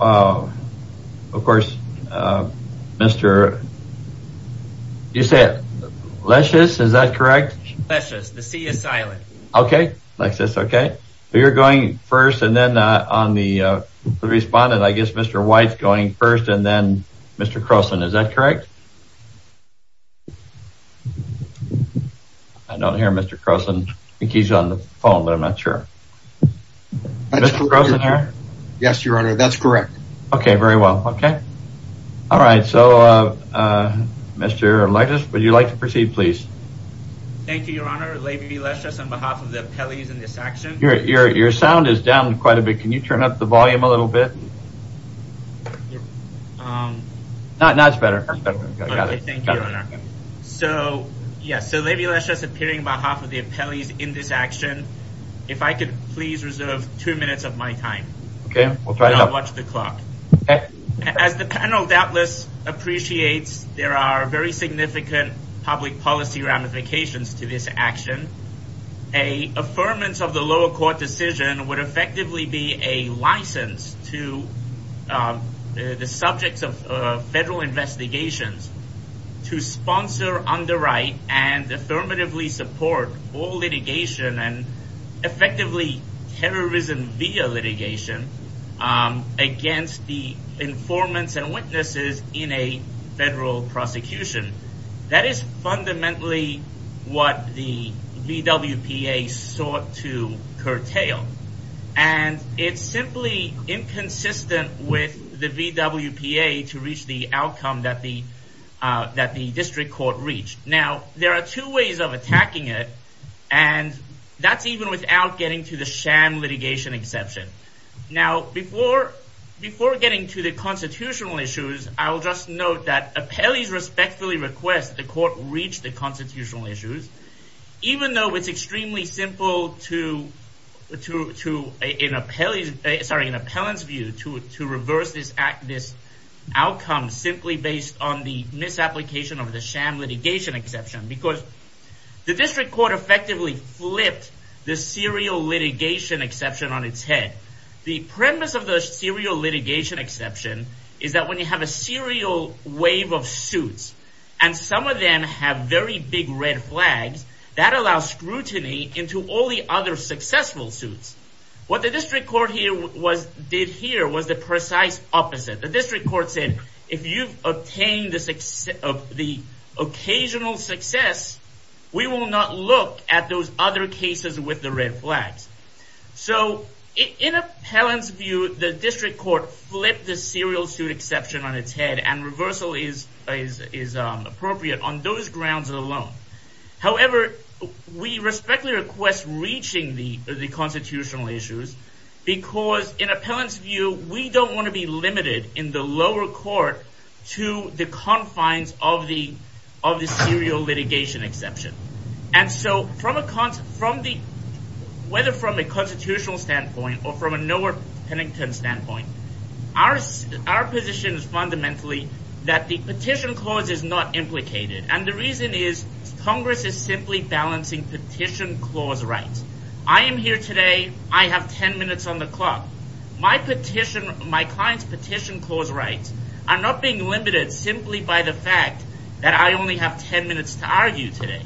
of course mr. you say it luscious is that correct okay like this okay you're going first and then on the respondent I guess mr. White's going first and then mr. Croson is that correct I don't hear mr. Croson he's on the phone but I'm not sure yes your honor that's correct okay very well okay all right so mr. Alexis would you like to proceed please your sound is down quite a bit can you turn up the volume a little bit so yes so maybe let's just appearing by half of I could please reserve two minutes of my time okay we'll try to watch the clock as the panel doubtless appreciates there are very significant public policy ramifications to this action a affirmance of the lower court decision would effectively be a license to the subjects of federal investigations to terrorism via litigation against the informants and witnesses in a federal prosecution that is fundamentally what the VWPA sought to curtail and it's simply inconsistent with the VWPA to reach the outcome that the that the district court reached now there are two ways of attacking it and that's even without getting to the sham litigation exception now before before getting to the constitutional issues I'll just note that appellees respectfully request the court reach the constitutional issues even though it's extremely simple to to to an appellee sorry an appellant's view to it to reverse this act this outcome simply based on the misapplication of the sham litigation exception because the district court effectively flipped the serial litigation exception on its head the premise of the serial litigation exception is that when you have a serial wave of suits and some of them have very big red flags that allow scrutiny into all the other successful suits what the district court here was did here was the precise opposite the district court said if you've obtained the success of the occasional success we will not look at those other cases with the red flags so in appellant's view the district court flipped the serial suit exception on its head and reversal is is appropriate on those grounds alone however we respectfully request reaching the the constitutional issues because in appellant's view we don't want to be limited in the lower court to the confines of the of the serial litigation exception and so from a concert from the weather from a constitutional standpoint or from a nowhere Pennington standpoint ours our position is fundamentally that the petition clause is not implicated and the reason is Congress is simply balancing petition clause rights I am here today I have ten minutes on the being limited simply by the fact that I only have ten minutes to argue today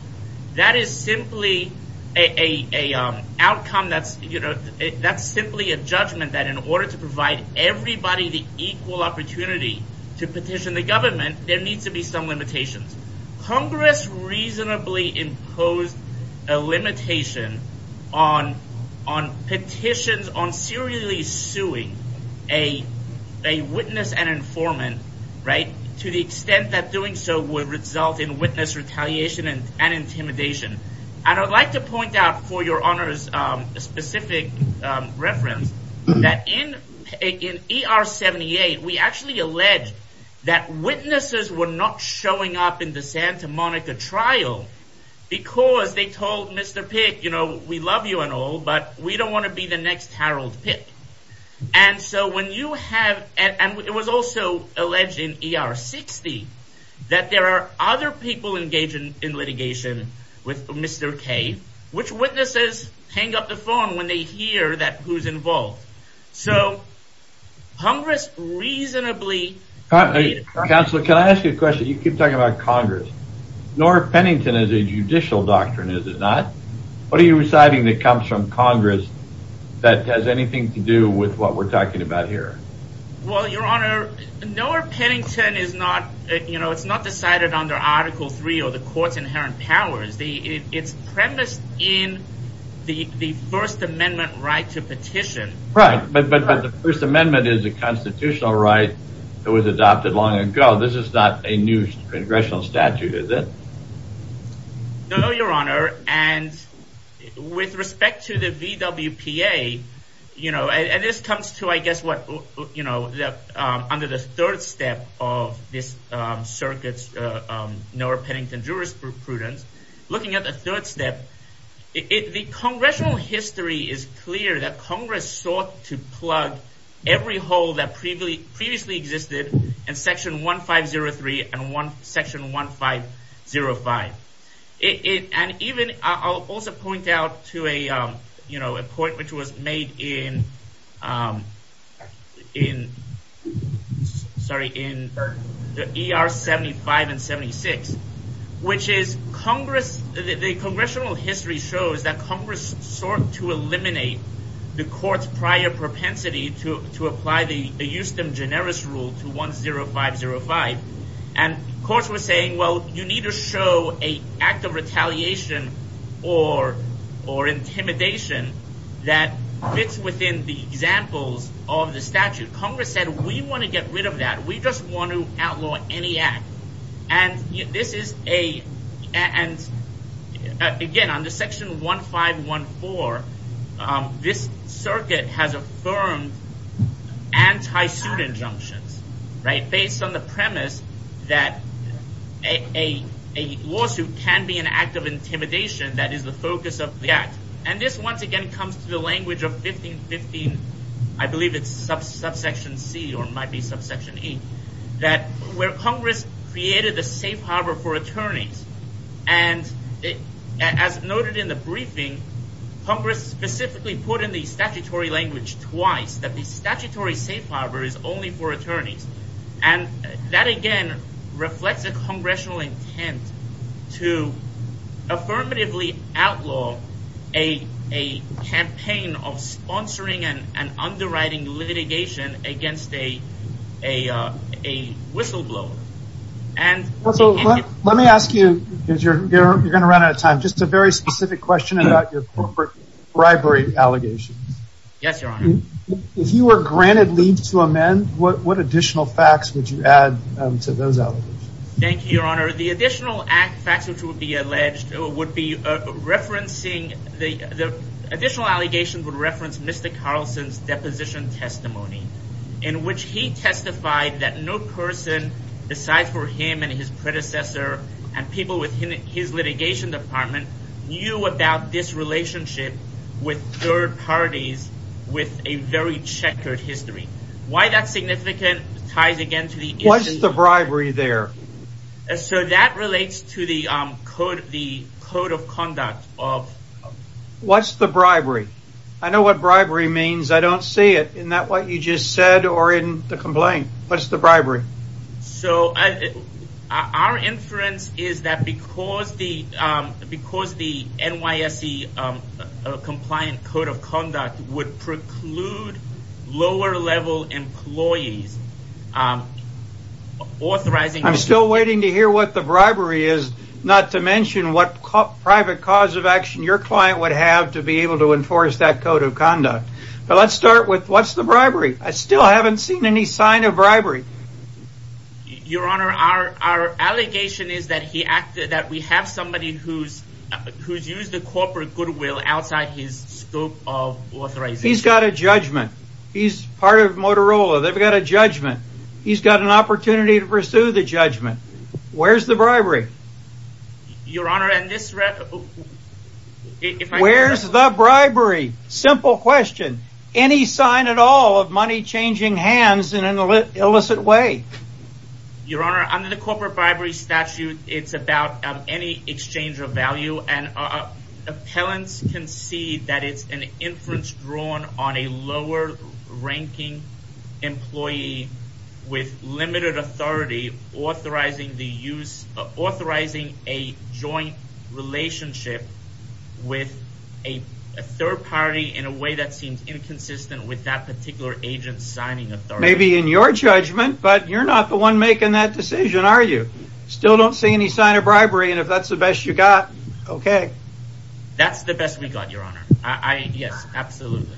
that is simply a outcome that's you know that's simply a judgment that in order to provide everybody the equal opportunity to petition the government there needs to be some limitations Congress reasonably imposed a limitation on on petitions on serially suing a a witness and informant right to the extent that doing so would result in witness retaliation and intimidation I don't like to point out for your honors specific reference that in again er 78 we actually allege that witnesses were not showing up in the Santa Monica trial because they told mr. Pitt you know we love you and all but we don't want to be the next Harold Pitt and so when you have and it was also alleged in er 60 that there are other people engaging in litigation with mr. K which witnesses hang up the phone when they hear that who's involved so Congress reasonably counselor can I ask you a question you keep talking about Congress nor Pennington as a judicial doctrine is it not what are you reciting that comes from Congress that has anything to do with what we're talking about here well your honor nor Pennington is not you know it's not decided under article 3 or the courts inherent powers the it's premise in the the First Amendment right to petition right but but but the First Amendment is a constitutional right it was adopted long ago this is not a new congressional statute is it no your honor and with respect to the VW PA you know and this comes to I guess what you know that under the third step of this circuits nor Pennington jurisprudence looking at the third step it the congressional history is clear that section 1503 and one section 1505 it and even I'll also point out to a you know a point which was made in in sorry in the er 75 and 76 which is Congress the congressional history shows that Congress sought to eliminate the courts generous rule to one zero five zero five and of course we're saying well you need to show a act of retaliation or or intimidation that fits within the examples of the statute Congress said we want to get rid of that we just want to outlaw any act and this is a and again on the section 1514 this circuit has anti-suit injunctions right based on the premise that a lawsuit can be an act of intimidation that is the focus of the act and this once again comes to the language of 1515 I believe it's subsection C or might be subsection E that where Congress created the safe harbor for attorneys and it as noted in the briefing Congress specifically put in the statutory language twice that the statutory safe harbor is only for attorneys and that again reflects a congressional intent to affirmatively outlaw a a campaign of sponsoring and underwriting litigation against a a whistleblower and also let me ask you you're gonna run out of time just a very specific question about your corporate bribery allegations yes if you were granted leave to amend what what additional facts would you add to those out thank you your honor the additional act facts which would be alleged or would be referencing the additional allegations would reference mr. Carlson's deposition testimony in which he his litigation department knew about this relationship with third parties with a very checkered history why that's significant ties again to the what's the bribery there so that relates to the code the code of conduct of what's the bribery I know what bribery means I don't see it in that what you just said or in the complaint what's the bribery so our inference is that because the because the NYSE compliant code of conduct would preclude lower-level employees authorizing I'm still waiting to hear what the bribery is not to mention what private cause of action your client would have to be able to enforce that code of conduct but let's start with what's the bribery I still haven't seen any sign of bribery your honor our our allegation is that he acted that we have somebody who's who's used the corporate goodwill outside his scope of authorize he's got a judgment he's part of Motorola they've got a judgment he's got an opportunity to pursue the judgment where's the bribery your honor and this where's the bribery simple question any sign at all of money changing hands in an illicit way your honor under the corporate bribery statute it's about any exchange of value and appellants can see that it's an inference drawn on a lower ranking employee with limited authority authorizing the use of authorizing a joint relationship with a third party in a way that seems inconsistent with that particular agent signing of maybe in your judgment but you're not the one making that decision are you still don't see any sign of bribery and if that's the best you got okay that's the best we got your honor I yes absolutely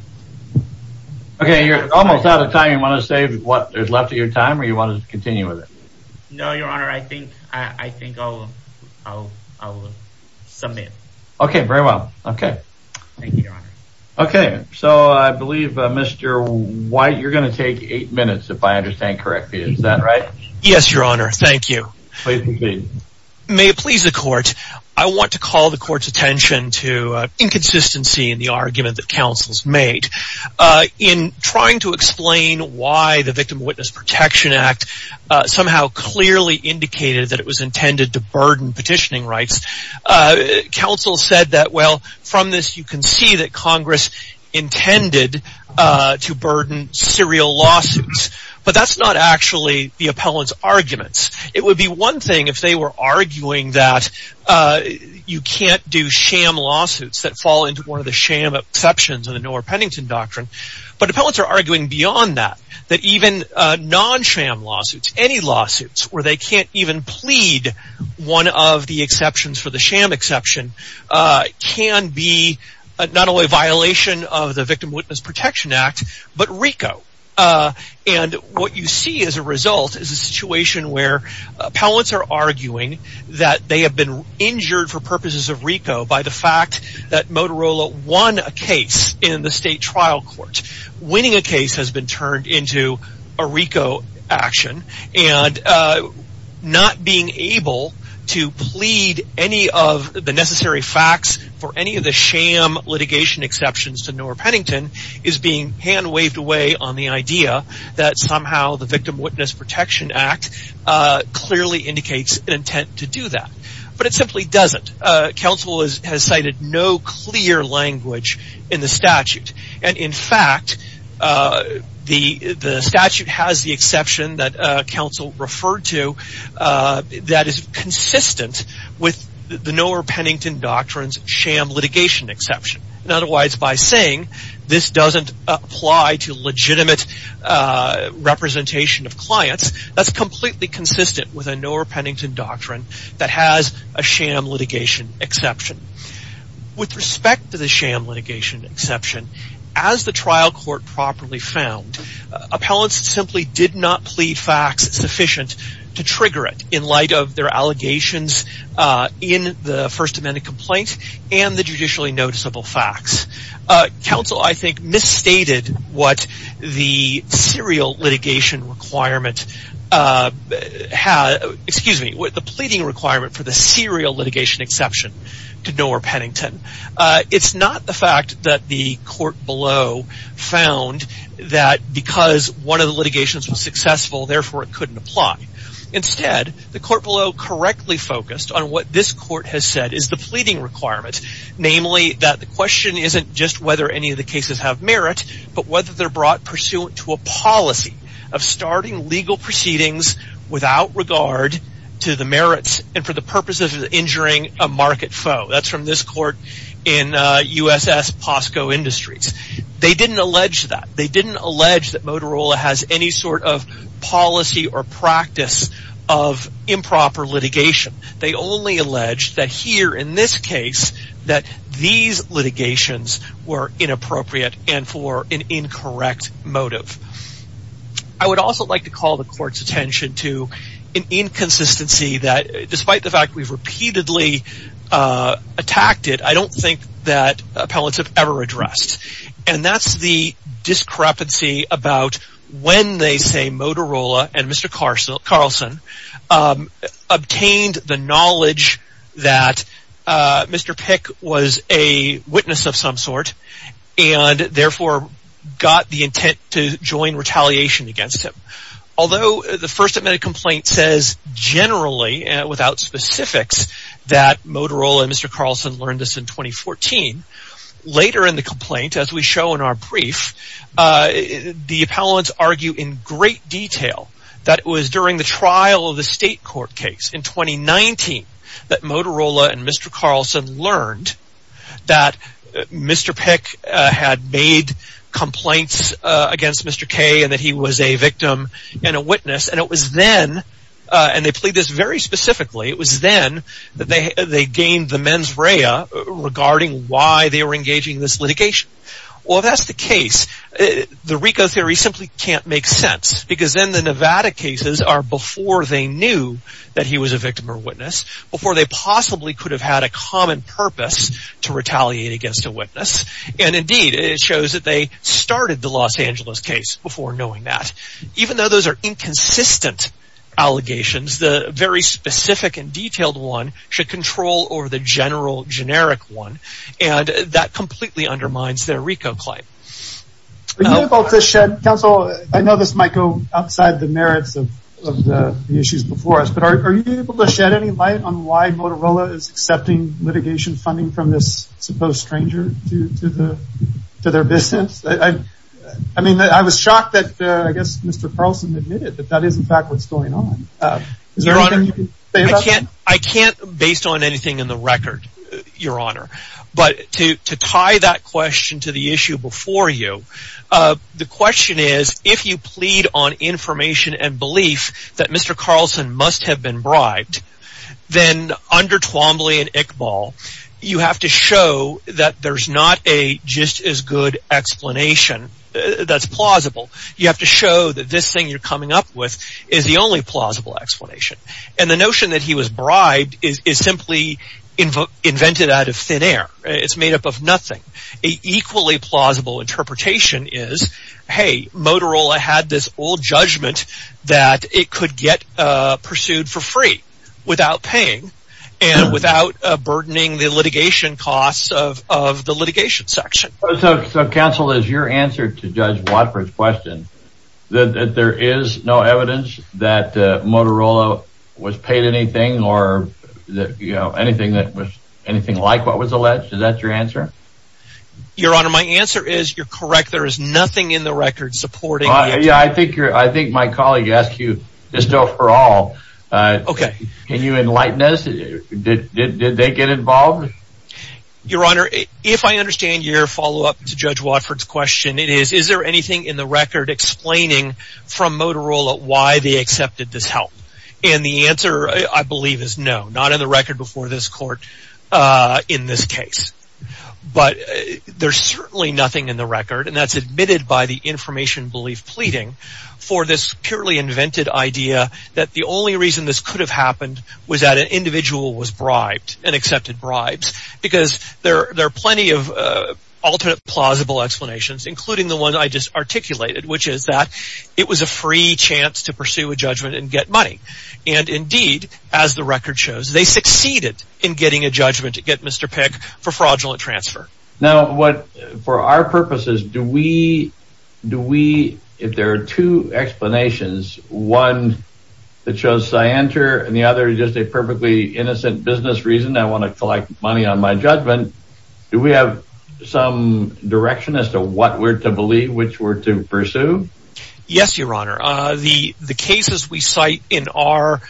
okay you're almost out of time you want to save what there's left of your time or you want to continue with it no your so I believe mr. why you're going to take eight minutes if I understand correctly is that right yes your honor thank you please may it please the court I want to call the court's attention to inconsistency in the argument that counsels made in trying to explain why the Victim Witness Protection Act somehow clearly indicated that it was intended to burden petitioning rights counsel said that well from this you can see that Congress intended to burden serial lawsuits but that's not actually the appellant's arguments it would be one thing if they were arguing that you can't do sham lawsuits that fall into one of the sham exceptions in the nor pennington doctrine but the poets are arguing beyond that that even non sham lawsuits any lawsuits where they can't even plead one of the exceptions for the exception can be not only violation of the Victim Witness Protection Act but Rico and what you see as a result is a situation where palates are arguing that they have been injured for purposes of Rico by the fact that Motorola won a case in the state trial court winning a case has been turned into a Rico action not being able to plead any of the necessary facts for any of the sham litigation exceptions to nor pennington is being hand waved away on the idea that somehow the Victim Witness Protection Act clearly indicates an intent to do that but it simply doesn't counsel has cited no clear language in fact the statute has the exception that counsel referred to that is consistent with the nor pennington doctrines sham litigation exception in other words by saying this doesn't apply to legitimate representation of clients that's completely consistent with a nor pennington doctrine that has a sham litigation exception as the trial court properly found appellants simply did not plead facts sufficient to trigger it in light of their allegations in the First Amendment complaints and the judicially noticeable facts council I think misstated what the serial litigation requirement had excuse me what the pleading requirement for the serial litigation exception to nor pennington it's not the fact that the court below found that because one of the litigations was successful therefore it couldn't apply instead the court below correctly focused on what this court has said is the pleading requirements namely that the question isn't just whether any of the cases have merit but whether they're brought pursuant to a policy of starting legal proceedings without regard to the merits and for the purposes of injuring a market so that's from this court in uss posco industries they didn't allege that they didn't allege that Motorola has any sort of policy or practice of improper litigation they only allege that here in this case that these litigations were inappropriate and for incorrect motive I would also like to call the court's I don't think that ever addressed and that's the discrepancy about when they say Motorola and Mr. Carson Carlson obtained the knowledge that Mr. Pick was a witness of some sort and therefore got the intent to join retaliation against him although the First Amendment complaint says generally and without specifics that Motorola and Mr. Carlson learned this in 2014 later in the complaint as we show in our brief the appellants argue in great detail that it was during the trial of the state court case in 2019 that Motorola and Mr. Carlson learned that Mr. Pick had made complaints against Mr. K and that he was a victim and a witness and it was then and they plead this very specifically it was then that they gained the mens rea regarding why they were engaging this litigation well that's the case the Rico theory simply can't make sense because then the Nevada cases are before they knew that he was a victim or witness before they possibly could have had a common purpose to retaliate against a witness and indeed it shows that they started the Los Angeles case before knowing that even though those are inconsistent allegations the very specific and detailed one should control over the general generic one and that completely undermines their Rico claim about the shed council I know this might go outside the merits of the issues before us but are you able to shed any light on why Motorola is accepting litigation funding from this supposed stranger to their business I mean I was shocked that I guess mr. Carlson admitted that that is in fact what's going on I can't based on anything in the record your honor but to tie that question to the issue before you the question is if you plead on information and belief that mr. Carlson must have been bribed then under Twombly and Iqbal you have to show that there's not a just as good explanation that's plausible you have to show that this thing you're coming up with is the only plausible explanation and the notion that he was bribed is simply invoked invented out of thin air it's made up of nothing equally plausible interpretation is hey Motorola had this old judgment that it could get pursued for free without paying and without burdening the council is your answer to judge Watford's question that there is no evidence that Motorola was paid anything or that you know anything that was anything like what was alleged is that your answer your honor my answer is you're correct there is nothing in the record supporting yeah I think you're I think my colleague asked you just overall okay can you enlighten us did they get involved your honor if I understand your follow-up to judge Watford's question it is is there anything in the record explaining from Motorola why they accepted this help and the answer I believe is no not in the record before this court in this case but there's certainly nothing in the record and that's admitted by the information belief pleading for this purely invented idea that the only reason this could have happened was that individual was bribed and accepted bribes because there there are plenty of alternate plausible explanations including the one I just articulated which is that it was a free chance to pursue a judgment and get money and indeed as the record shows they succeeded in getting a judgment to get mr. Peck for fraudulent transfer now what for our purposes do we do we if there are two explanations one that shows cyanter and the other is just a perfectly innocent business reason I want to collect money on my judgment do we have some direction as to what we're to believe which were to pursue yes your honor the the cases we cite in our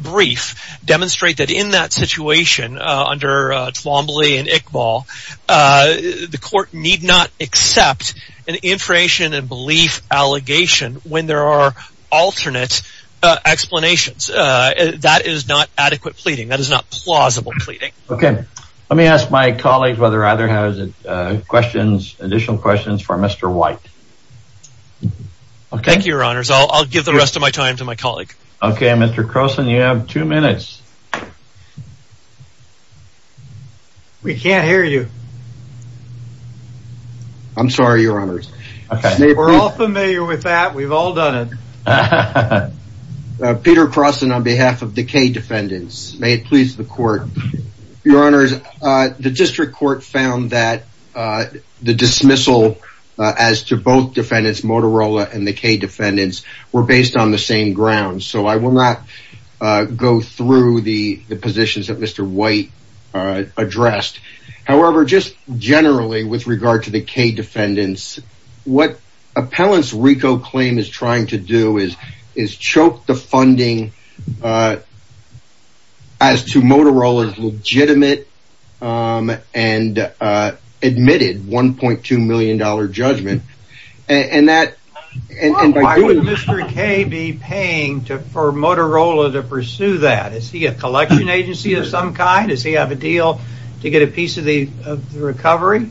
brief demonstrate that in that situation under Twombly and Iqbal the court need not accept an information and belief allegation when there are alternate explanations that is not adequate pleading that is not plausible pleading okay let me ask my colleagues whether either has questions additional questions for mr. white okay your honors I'll give the rest of my time to my colleague okay mr. Croson you have two we've all done it Peter Croson on behalf of the K defendants may it please the court your honors the district court found that the dismissal as to both defendants Motorola and the K defendants were based on the same ground so I will not go through the the positions that mr. white addressed however just generally with regard to the K defendants what appellants Rico claim is trying to do is is choke the funding as to Motorola's legitimate and admitted 1.2 million dollar judgment and that and why would mr. K be paying to for Motorola to pursue that is he a collection agency of some kind is he have a deal to get a recovery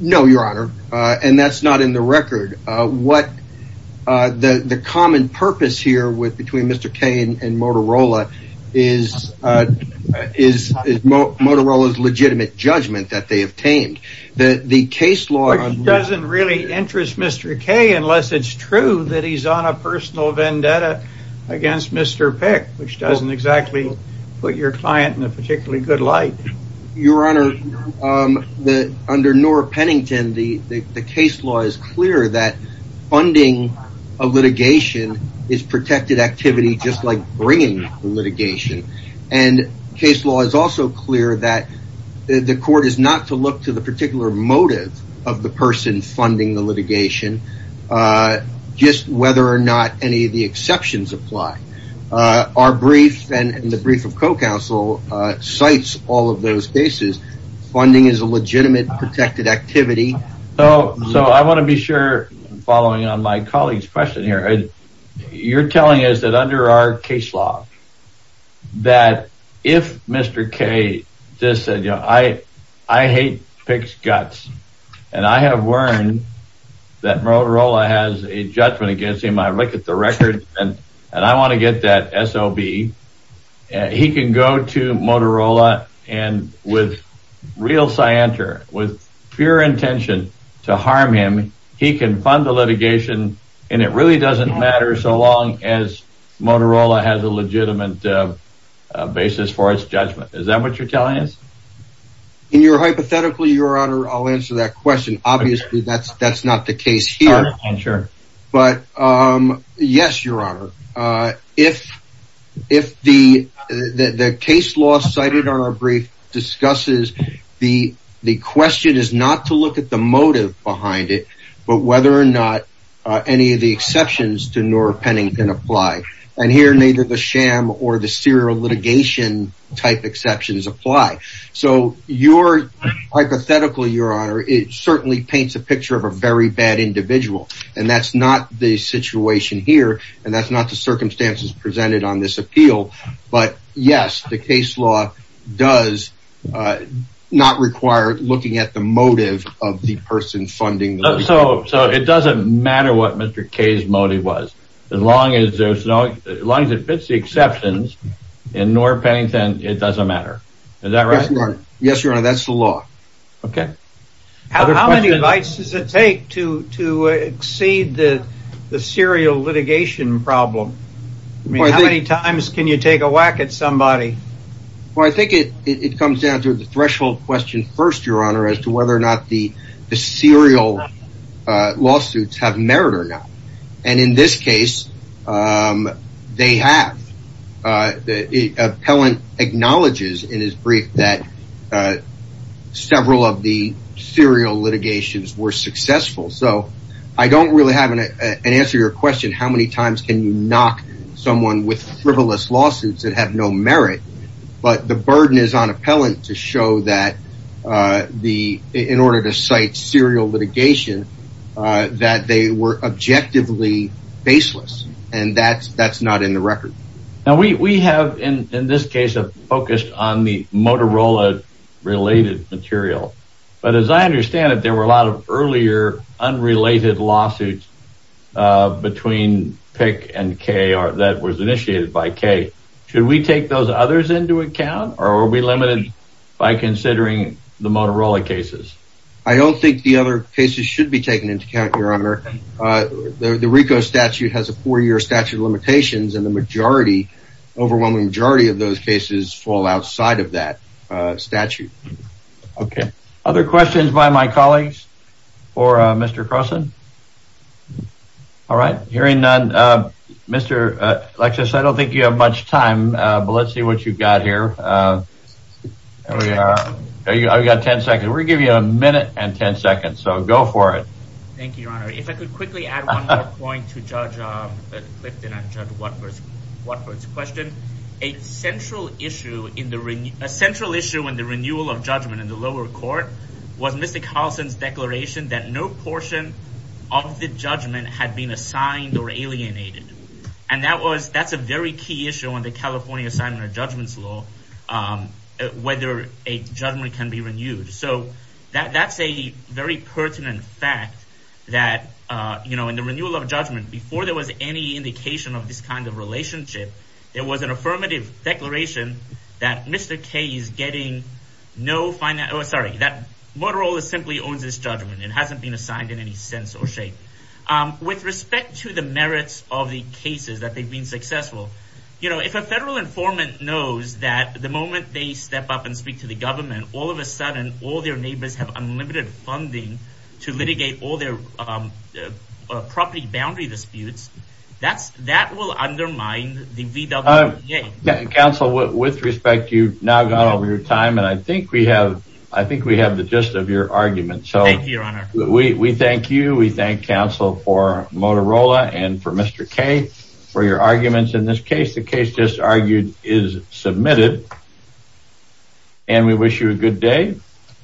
no your honor and that's not in the record what the the common purpose here with between mr. Kane and Motorola is is Motorola's legitimate judgment that they obtained that the case law doesn't really interest mr. K unless it's true that he's on a personal vendetta against mr. Peck which doesn't exactly put your client in a particularly good light your honor the under Nora Pennington the the case law is clear that funding of litigation is protected activity just like bringing litigation and case law is also clear that the court is not to look to the particular motive of the person funding the litigation just whether or not any of the exceptions apply our brief and the brief of co-counsel cites all of those cases funding is a legitimate protected activity oh so I want to be sure following on my colleagues question here you're telling us that under our case law that if mr. K just said you know I I hate pics guts and I have learned that Motorola has a judgment against him I look at the record and and I want to get that SOB he can go to Motorola and with real scienter with pure intention to harm him he can fund the litigation and it really doesn't matter so long as Motorola has a legitimate basis for its in your hypothetical your honor I'll answer that question obviously that's that's not the case here I'm sure but yes your honor if if the the case law cited on our brief discusses the the question is not to look at the motive behind it but whether or not any of the exceptions to Nora Pennington apply and the sham or the serial litigation type exceptions apply so your hypothetical your honor it certainly paints a picture of a very bad individual and that's not the situation here and that's not the circumstances presented on this appeal but yes the case law does not require looking at the motive of the person funding so so it doesn't matter what mr. K's motive was as long as there's no as long as it fits the exceptions in Nora Pennington it doesn't matter is that right yes your honor that's the law okay how many bites does it take to to exceed the the serial litigation problem many times can you take a whack at somebody well I think it it comes down to the threshold question first your honor as to whether or not the serial lawsuits have merit or not and in this case they have the appellant acknowledges in his brief that several of the serial litigations were successful so I don't really have an answer your question how many times can you knock someone with frivolous lawsuits that have no merit but the burden is on appellant to show that the in order to and that's that's not in the record now we have in this case of focused on the Motorola related material but as I understand it there were a lot of earlier unrelated lawsuits between pick and K or that was initiated by K should we take those others into account or will be limited by considering the Motorola cases I don't think the other cases should be taken into account your the RICO statute has a four-year statute of limitations and the majority overwhelming majority of those cases fall outside of that statute okay other questions by my colleagues or mr. Croson all right hearing none mr. Alexis I don't think you have much time but let's see what you've got here yeah I've got a minute and 10 seconds so go for it a central issue in the ring a central issue in the renewal of judgment in the lower court was mr. Carlson's declaration that no portion of the judgment had been assigned or alienated and that was that's a very key issue on the California assignment of judgments law whether a judgment can be renewed so that that's a very pertinent fact that you know in the renewal of judgment before there was any indication of this kind of relationship there was an affirmative declaration that mr. K is getting no fine that oh sorry that Motorola simply owns this judgment it hasn't been assigned in any sense or shape with respect to the merits of the successful you know if a federal informant knows that the moment they step up and speak to the government all of a sudden all their neighbors have unlimited funding to litigate all their property boundary disputes that's that will undermine the VW counsel with respect you now got over your time and I think we have I think we have the gist of your argument so we thank you we mentioned this case the case just argued is submitted and we wish you a good day